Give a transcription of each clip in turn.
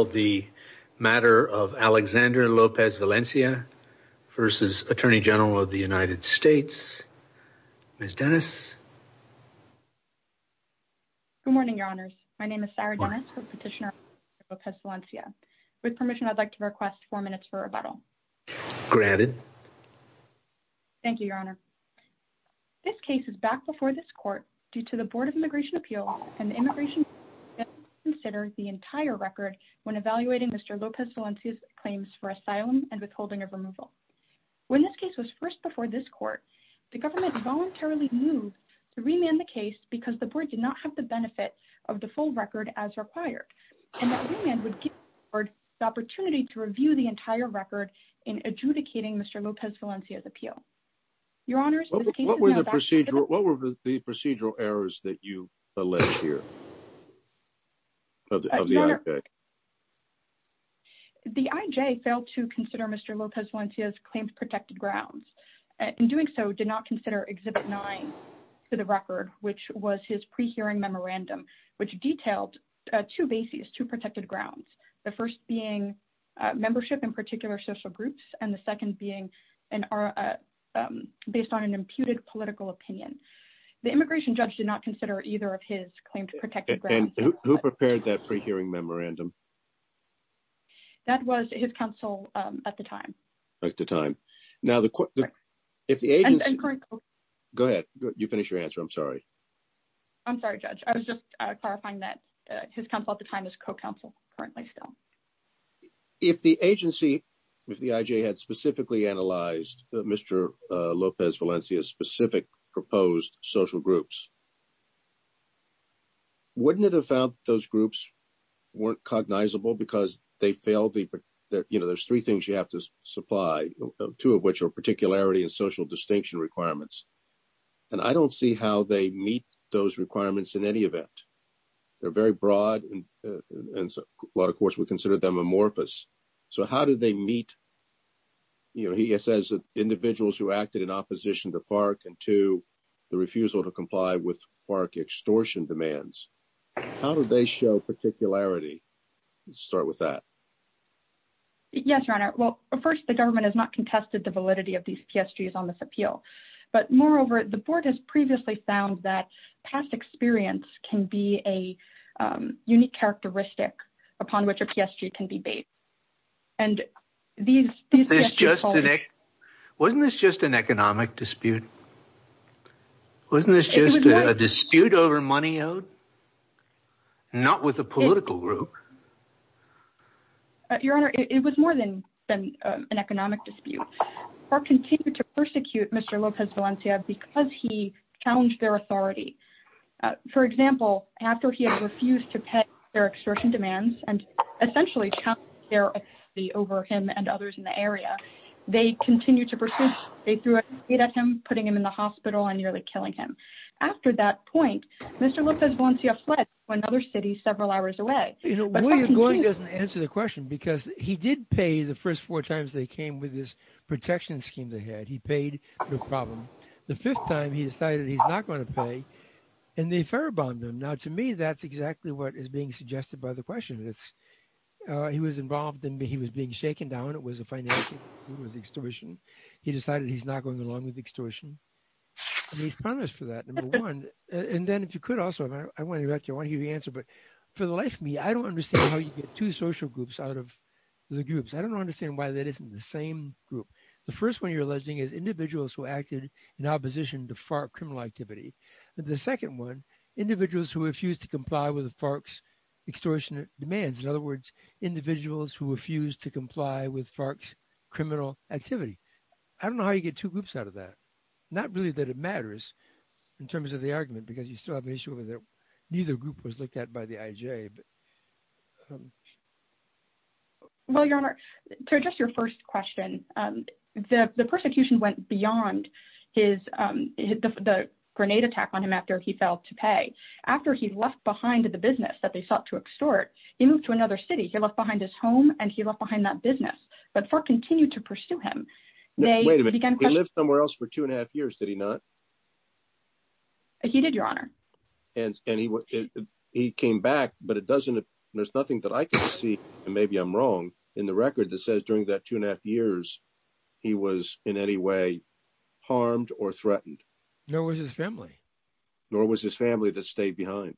Sarah Dennis, Petitioner for Alexander Lopez-Valencia v. Attorney General of the United States This case is back before this Court due to the Board of Immigration Appeals and the Immigration When this case was first before this Court, the government voluntarily moved to remand the case because the Board did not have the benefit of the full record as required, and that remand would give the Board the opportunity to review the entire record in adjudicating Mr. Lopez-Valencia's appeal. What were the procedural errors that you allege here of the IJ? The IJ failed to consider Mr. Lopez-Valencia's claims of protected grounds. In doing so, it did not consider Exhibit 9 to the record, which was his pre-hearing memorandum, which detailed two bases, two protected grounds. The first being membership in particular social groups, and the second being based on an imputed political opinion. The immigration judge did not consider either of his claims of protected grounds. And who prepared that pre-hearing memorandum? That was his counsel at the time. At the time. Now, if the agency... Go ahead. You finish your answer. I'm sorry. I'm sorry, Judge. I was just clarifying that his counsel at the time is co-counsel currently still. If the agency, if the IJ had specifically analyzed Mr. Lopez-Valencia's specific proposed social groups, wouldn't it have found that those groups weren't cognizable because they failed the... You know, there's three things you have to supply, two of which are particularity and social distinction requirements. And I don't see how they meet those requirements in any event. They're very broad, and a lot of courts would consider them amorphous. So how do they meet, you know, he says, individuals who acted in opposition to FARC, and two, the refusal to comply with FARC extortion demands. How do they show particularity? Start with that. Yes, Your Honor. Well, first, the government has not contested the validity of these PSGs on this appeal. But moreover, the board has previously found that past experience can be a unique characteristic upon which a PSG can be based. And these... Wasn't this just an economic dispute? Wasn't this just a dispute over money owed? Not with a political group. Your Honor, it was more than an economic dispute. They continued to persecute Mr. Lopez Valencia because he challenged their authority. For example, after he had refused to pay their extortion demands and essentially challenged their authority over him and others in the area, they continued to pursue... They threw a spade at him, putting him in the hospital and nearly killing him. After that point, Mr. Lopez Valencia fled to another city several hours away. You know, William Goying doesn't answer the question because he did pay the first four times they came with this protection scheme they had. He paid the problem. The fifth time, he decided he's not going to pay. And they fur-bombed him. Now, to me, that's exactly what is being suggested by the question. He was involved and he was being shaken down. It was a financial... It was extortion. He decided he's not going along with extortion. And he's punished for that, number one. And then if you could also, I want to hear the answer, but for the life of me, I don't understand how you get two social groups out of the groups. I don't understand why that isn't the same group. The first one you're alleging is individuals who acted in opposition to FARC criminal activity. The second one, individuals who refused to comply with the FARC's extortion demands. In other words, individuals who refused to comply with FARC's criminal activity. I don't know how you get two groups out of that. Not really that it matters in terms of the argument because you still have an issue over there. Neither group was looked at by the IJ. Well, Your Honor, to address your first question, the persecution went beyond the grenade attack on him after he failed to pay. After he left behind the business that they sought to extort, he moved to another city. He left behind his home and he left behind that business. But FARC continued to pursue him. Wait a minute, he lived somewhere else for two and a half years, did he not? He did, Your Honor. And he came back, but it doesn't, there's nothing that I can see, and maybe I'm wrong, in the record that says during that two and a half years, he was in any way harmed or threatened. Nor was his family. Nor was his family that stayed behind.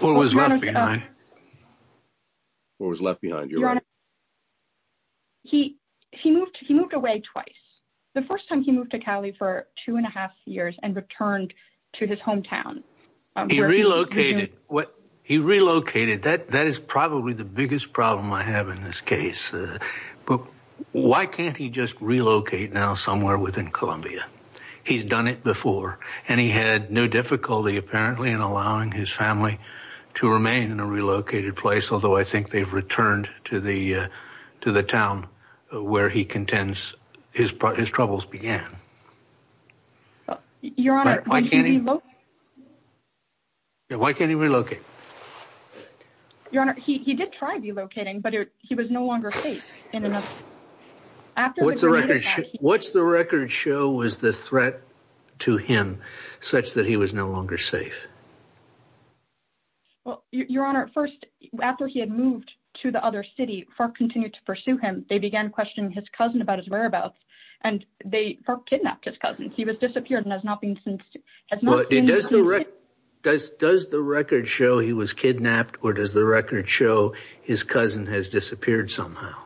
Or was left behind. Or was left behind, Your Honor. He moved away twice. The first time he moved to Cali for two and a half years and returned to his hometown. He relocated. He relocated. That is probably the biggest problem I have in this case. But why can't he just relocate now somewhere within Columbia? He's done it before. And he had no difficulty apparently in allowing his family to remain in a relocated place, although I think they've returned to the town where he contends his troubles began. Your Honor, why can't he relocate? Why can't he relocate? Your Honor, he did try relocating, but he was no longer safe. What's the record show was the threat to him such that he was no longer safe? Your Honor, first, after he had moved to the other city, FARC continued to pursue him. They began questioning his cousin about his whereabouts. And FARC kidnapped his cousin. He was disappeared and has not been since. Does the record show he was kidnapped or does the record show his cousin has disappeared somehow?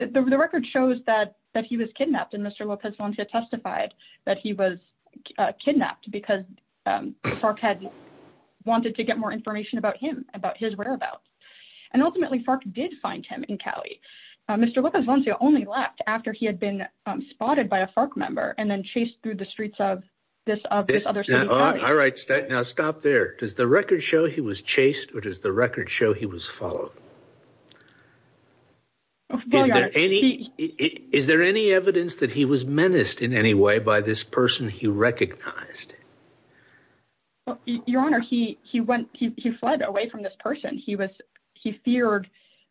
The record shows that he was kidnapped. And Mr. Lopez-Gonzalez testified that he was kidnapped because FARC had wanted to get more information about him, about his whereabouts. And ultimately, FARC did find him in Cali. Mr. Lopez-Gonzalez only left after he had been spotted by a FARC member and then chased through the streets of this other city. All right. Now, stop there. Does the record show he was chased or does the record show he was followed? Is there any evidence that he was menaced in any way by this person he recognized? Your Honor, he fled away from this person. He feared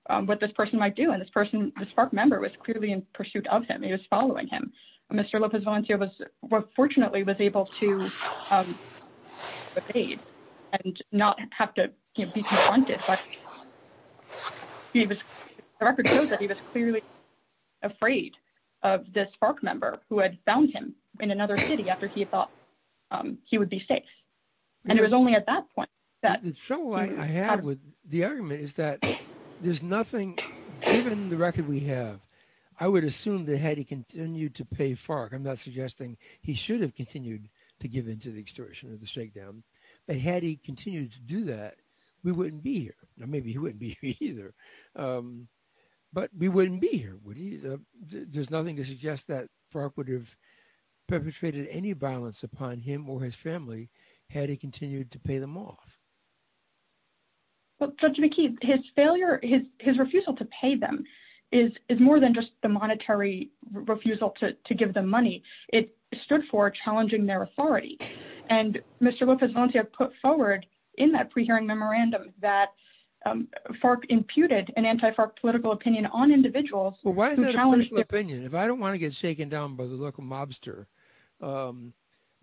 what this person might do. And this person, this FARC member, was clearly in pursuit of him. He was following him. Mr. Lopez-Gonzalez fortunately was able to evade and not have to be confronted. But the record shows that he was clearly afraid of this FARC member who had found him in another city after he thought he would be safe. And it was only at that point. The trouble I have with the argument is that there's nothing, given the record we have, I would assume that had he continued to pay FARC, I'm not suggesting he should have continued to give in to the extortion or the shakedown, but had he continued to do that, we wouldn't be here. Maybe he wouldn't be here either. But we wouldn't be here. There's nothing to suggest that FARC would have perpetrated any violence upon him or his family had he continued to pay them off. Judge McKee, his refusal to pay them is more than just the monetary refusal to give them money. It stood for challenging their authority. And Mr. Lopez-Gonzalez put forward in that pre-hearing memorandum that FARC imputed an anti-FARC political opinion on individuals. Well, why is that a political opinion? If I don't want to get shaken down by the local mobster,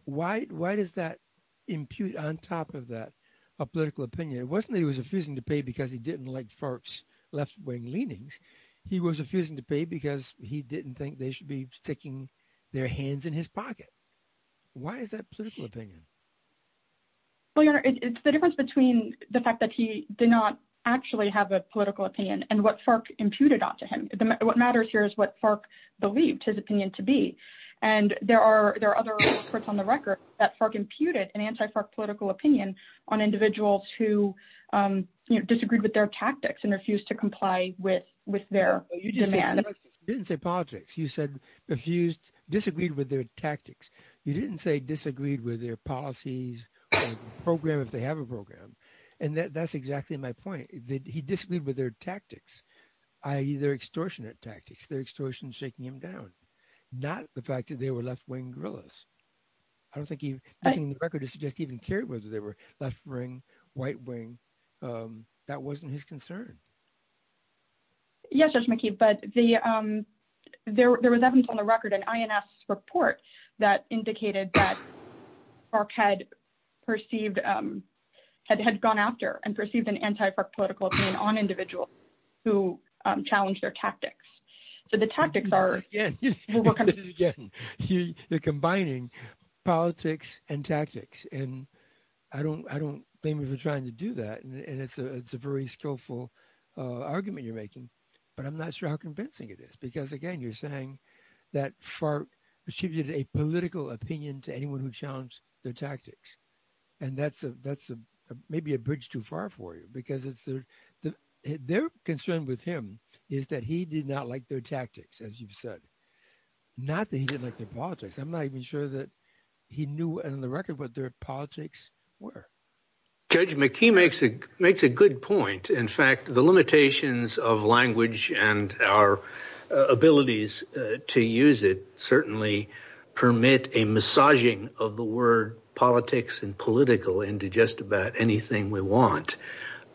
why does that impute on top of that a political opinion? It wasn't that he was refusing to pay because he didn't like FARC's left-wing leanings. He was refusing to pay because he didn't think they should be sticking their hands in his pocket. Why is that a political opinion? Well, Your Honor, it's the difference between the fact that he did not actually have a political opinion and what FARC imputed onto him. What matters here is what FARC believed his opinion to be. And there are other reports on the record that FARC imputed an anti-FARC political opinion on individuals who disagreed with their tactics and refused to comply with their demands. You didn't say politics. You said refused – disagreed with their tactics. You didn't say disagreed with their policies or program if they have a program. And that's exactly my point, that he disagreed with their tactics, i.e., their extortionate tactics, their extortion shaking him down, not the fact that they were left-wing guerrillas. I don't think he – I think the record suggests he didn't care whether they were left-wing, white-wing. That wasn't his concern. Yes, Judge McKee, but there was evidence on the record, an INS report, that indicated that FARC had perceived – had gone after and perceived an anti-FARC political opinion on individuals who challenged their tactics. So the tactics are – You're combining politics and tactics. And I don't blame you for trying to do that. And it's a very skillful argument you're making. But I'm not sure how convincing it is because, again, you're saying that FARC attributed a political opinion to anyone who challenged their tactics. And that's maybe a bridge too far for you because it's – their concern with him is that he did not like their tactics, as you've said. Not that he didn't like their politics. I'm not even sure that he knew on the record what their politics were. Judge McKee makes a good point. In fact, the limitations of language and our abilities to use it certainly permit a massaging of the word politics and political into just about anything we want.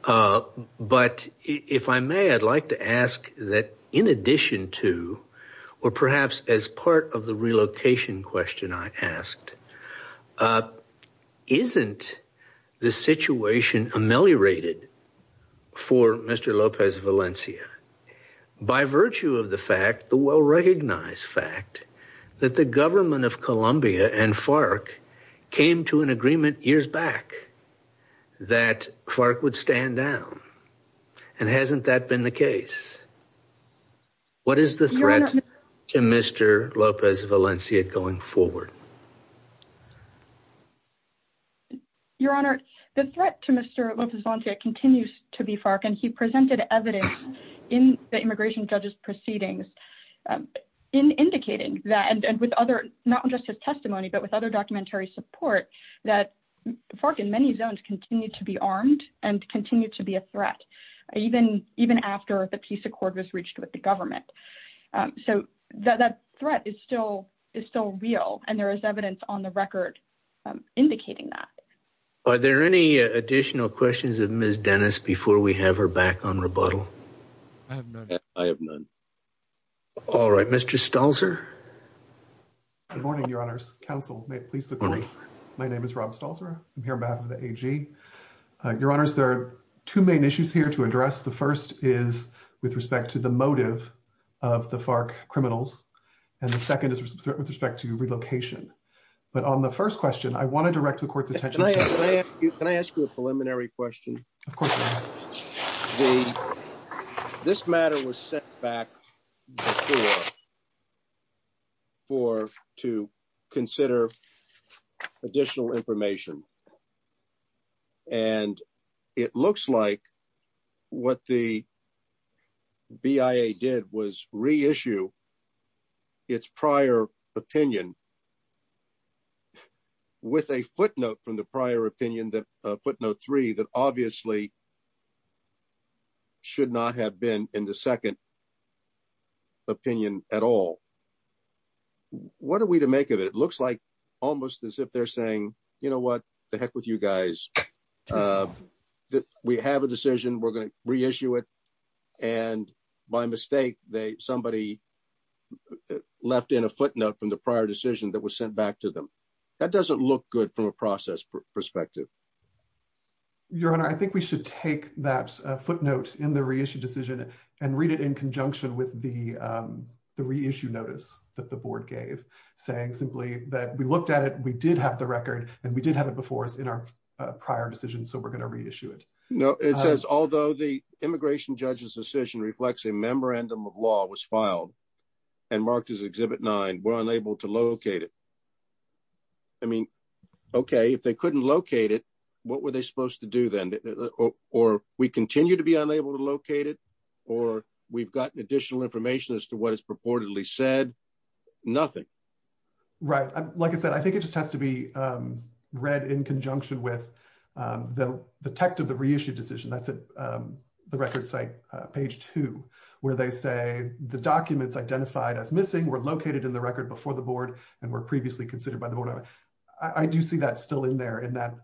But if I may, I'd like to ask that in addition to, or perhaps as part of the relocation question I asked, isn't the situation ameliorated for Mr. López Valencia? By virtue of the fact, the well-recognized fact, that the government of Colombia and FARC came to an agreement years back that FARC would stand down. And hasn't that been the case? What is the threat to Mr. López Valencia going forward? Your Honor, the threat to Mr. López Valencia continues to be FARC. And he presented evidence in the immigration judge's proceedings in indicating that – and with other – not just his testimony, but with other documentary support – that FARC in many zones continue to be armed and continue to be a threat. Even after the peace accord was reached with the government. So that threat is still real. And there is evidence on the record indicating that. Are there any additional questions of Ms. Dennis before we have her back on rebuttal? I have none. I have none. All right. Mr. Stalzer? Good morning, Your Honors. Counsel, may it please the Court. My name is Rob Stalzer. I'm here on behalf of the AG. Your Honors, there are two main issues here to address. The first is with respect to the motive of the FARC criminals. And the second is with respect to relocation. But on the first question, I want to direct the Court's attention – Can I ask you a preliminary question? Of course, Your Honor. This matter was set back before to consider additional information. And it looks like what the BIA did was reissue its prior opinion with a footnote from the prior opinion, footnote three, that obviously should not have been in the second opinion at all. What are we to make of it? It looks like almost as if they're saying, you know what, to heck with you guys. We have a decision. We're going to reissue it. And by mistake, somebody left in a footnote from the prior decision that was sent back to them. That doesn't look good from a process perspective. Your Honor, I think we should take that footnote in the reissue decision and read it in conjunction with the reissue notice that the Board gave, saying simply that we looked at it, we did have the record, and we did have it before us in our prior decision, so we're going to reissue it. No, it says, although the immigration judge's decision reflects a memorandum of law was filed and marked as Exhibit 9, we're unable to locate it. I mean, okay, if they couldn't locate it, what were they supposed to do then? Or we continue to be unable to locate it, or we've gotten additional information as to what is purportedly said? Nothing. Right. Like I said, I think it just has to be read in conjunction with the text of the reissue decision. That's at the record site, page two, where they say the documents identified as missing were located in the record before the Board and were previously considered by the Board. I do see that still in there in that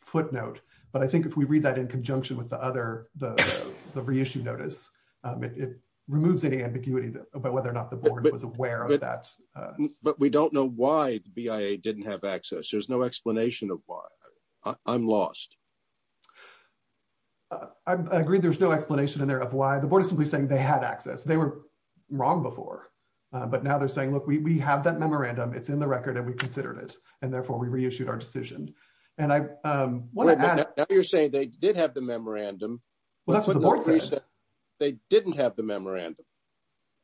footnote. But I think if we read that in conjunction with the reissue notice, it removes any ambiguity about whether or not the Board was aware of that. But we don't know why the BIA didn't have access. There's no explanation of why. I'm lost. I agree there's no explanation in there of why. The Board is simply saying they had access. They were wrong before, but now they're saying, look, we have that memorandum. It's in the record, and we considered it, and therefore we reissued our decision. Now you're saying they did have the memorandum. They didn't have the memorandum.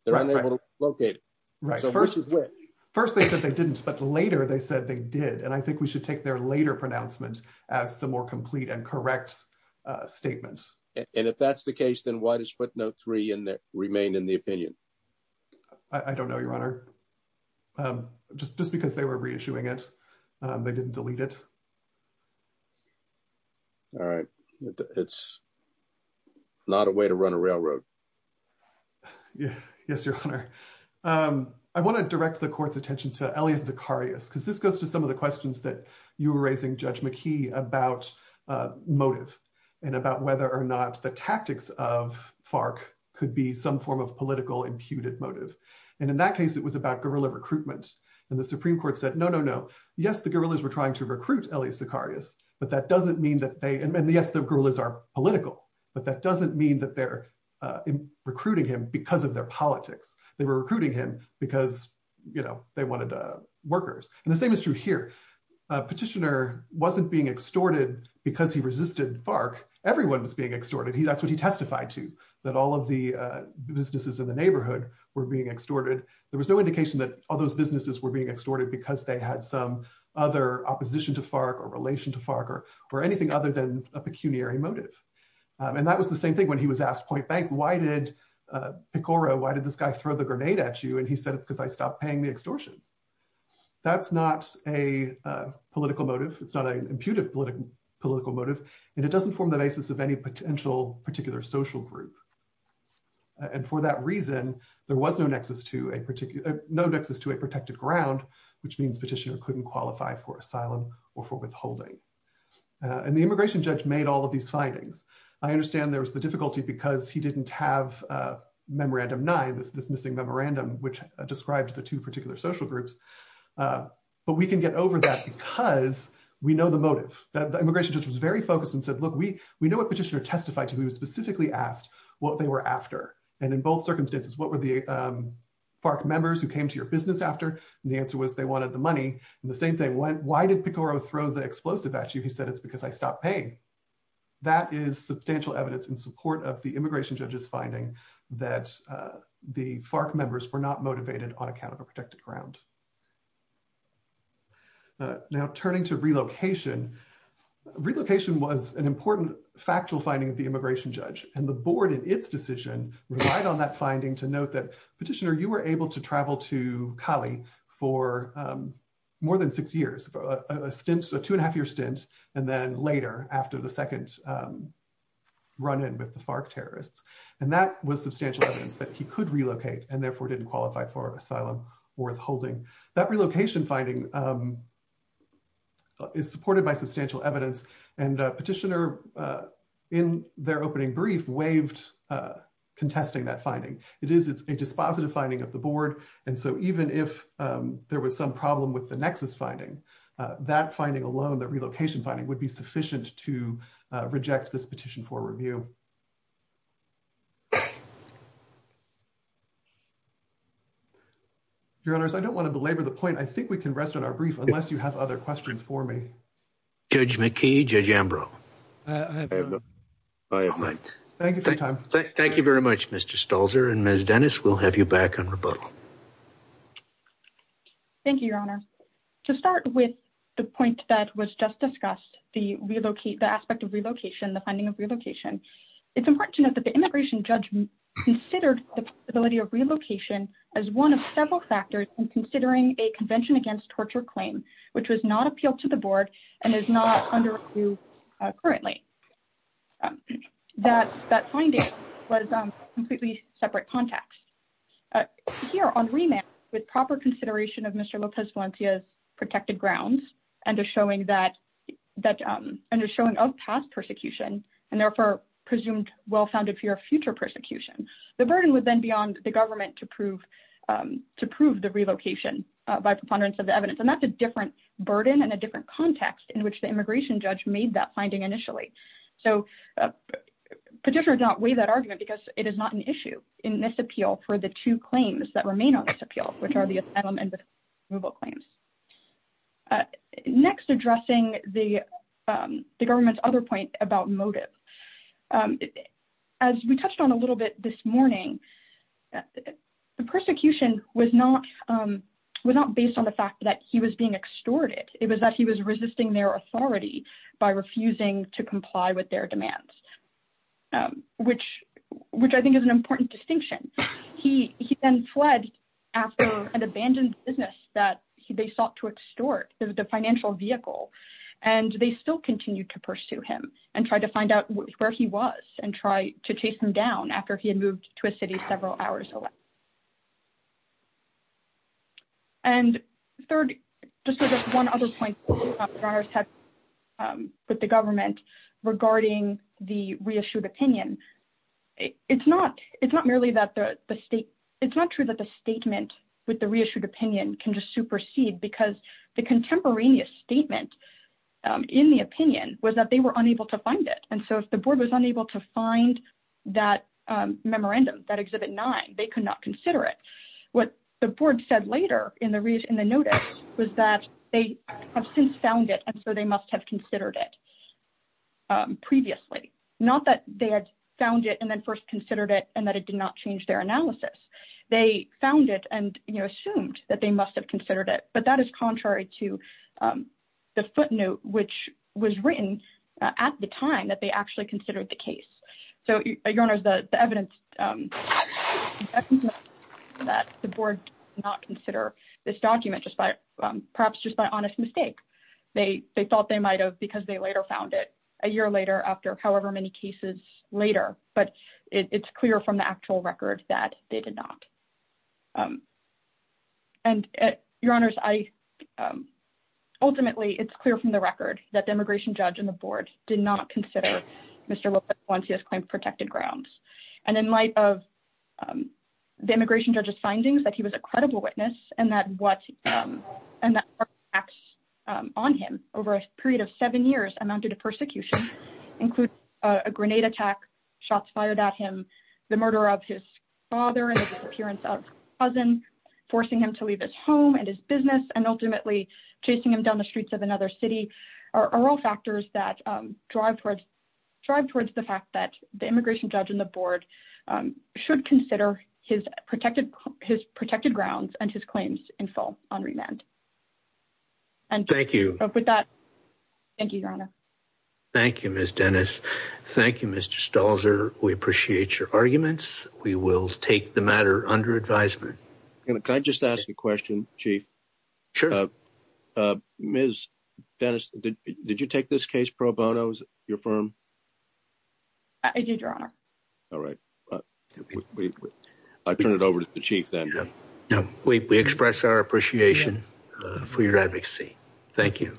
They're unable to locate it. First they said they didn't, but later they said they did. And I think we should take their later pronouncement as the more complete and correct statement. And if that's the case, then why does footnote three remain in the opinion? I don't know, Your Honor. Just because they were reissuing it. They didn't delete it. All right. It's not a way to run a railroad. Yes, Your Honor. I want to direct the court's attention to Elias Zacharias, because this goes to some of the questions that you were raising, Judge McKee, about motive and about whether or not the tactics of FARC could be some form of political imputed motive. And in that case, it was about guerrilla recruitment. And the Supreme Court said, no, no, no. Yes, the guerrillas were trying to recruit Elias Zacharias. And yes, the guerrillas are political. But that doesn't mean that they're recruiting him because of their politics. They were recruiting him because they wanted workers. And the same is true here. Petitioner wasn't being extorted because he resisted FARC. Everyone was being extorted. That's what he testified to, that all of the businesses in the neighborhood were being extorted. There was no indication that all those businesses were being extorted because they had some other opposition to FARC or relation to FARC or anything other than a pecuniary motive. And that was the same thing when he was asked, Point Bank, why did Pecora, why did this guy throw the grenade at you? And he said, it's because I stopped paying the extortion. That's not a political motive. It's not an imputed political motive. And it doesn't form the basis of any potential particular social group. And for that reason, there was no nexus to a protected ground, which means petitioner couldn't qualify for asylum or for withholding. And the immigration judge made all of these findings. I understand there was the difficulty because he didn't have Memorandum 9, this missing memorandum, which described the two particular social groups. But we can get over that because we know the motive. The immigration judge was very focused and said, look, we know what petitioner testified to. He was specifically asked what they were after. And in both circumstances, what were the FARC members who came to your business after? And the answer was they wanted the money. And the same thing, why did Pecora throw the explosive at you? He said, it's because I stopped paying. That is substantial evidence in support of the immigration judge's finding that the FARC members were not motivated on account of a protected ground. Now, turning to relocation, relocation was an important factual finding of the immigration judge. And the board in its decision relied on that finding to note that petitioner, you were able to travel to Cali for more than six years, a two and a half year stint. And then later, after the second run in with the FARC terrorists. And that was substantial evidence that he could relocate and therefore didn't qualify for asylum worth holding. That relocation finding is supported by substantial evidence. And petitioner, in their opening brief, waived contesting that finding. It is a dispositive finding of the board. And so even if there was some problem with the nexus finding, that finding alone, that relocation finding would be sufficient to reject this petition for review. Your honors, I don't want to belabor the point. I think we can rest on our brief unless you have other questions for me. Judge McKee, Judge Ambrose. Thank you for your time. Thank you very much, Mr. Stolzer. And Ms. Dennis, we'll have you back on rebuttal. Thank you, Your Honor. To start with the point that was just discussed, the relocate, the aspect of relocation, the finding of relocation. It's important to note that the immigration judge considered the ability of relocation as one of several factors in considering a convention against torture claim, which was not appealed to the board and is not under review currently. That finding was a completely separate context. Here on remand, with proper consideration of Mr. Lopez Valencia's protected grounds and a showing of past persecution and therefore presumed well-founded fear of future persecution, the burden would then be on the government to prove the relocation by preponderance of the evidence. And that's a different burden and a different context in which the immigration judge made that finding initially. So petitioners don't weigh that argument because it is not an issue in this appeal for the two claims that remain on this appeal, which are the asylum and removal claims. Next, addressing the government's other point about motive. As we touched on a little bit this morning, the persecution was not based on the fact that he was being extorted. It was that he was resisting their authority by refusing to comply with their demands, which I think is an important distinction. He then fled after an abandoned business that they sought to extort as the financial vehicle, and they still continue to pursue him and try to find out where he was and try to chase him down after he had moved to a city several hours away. And third, just one other point with the government regarding the reissued opinion. It's not true that the statement with the reissued opinion can just supersede because the contemporaneous statement in the opinion was that they were unable to find it. And so if the board was unable to find that memorandum, that Exhibit 9, they could not consider it. What the board said later in the notice was that they have since found it and so they must have considered it previously. Not that they had found it and then first considered it and that it did not change their analysis. They found it and assumed that they must have considered it, but that is contrary to the footnote, which was written at the time that they actually considered the case. So, Your Honors, the evidence that the board did not consider this document, perhaps just by honest mistake. They thought they might have because they later found it a year later after however many cases later, but it's clear from the actual record that they did not. And, Your Honors, ultimately, it's clear from the record that the immigration judge and the board did not consider Mr. Lopez-Alonso's claim of protected grounds. And in light of the immigration judge's findings that he was a credible witness and that the attacks on him over a period of seven years amounted to persecution, including a grenade attack, shots fired at him, the murder of his father and the disappearance of his cousin, forcing him to leave his home and his business, and ultimately chasing him down the streets of another city, are all factors that drive towards the fact that the immigration judge and the board should consider his protected grounds and his claims in full on remand. Thank you. Thank you, Your Honor. Thank you, Ms. Dennis. Thank you, Mr. Stalzer. We appreciate your arguments. We will take the matter under advisement. Can I just ask a question, Chief? Sure. Ms. Dennis, did you take this case pro bono, your firm? I did, Your Honor. All right. I'll turn it over to the Chief then. We express our appreciation for your advocacy. Thank you.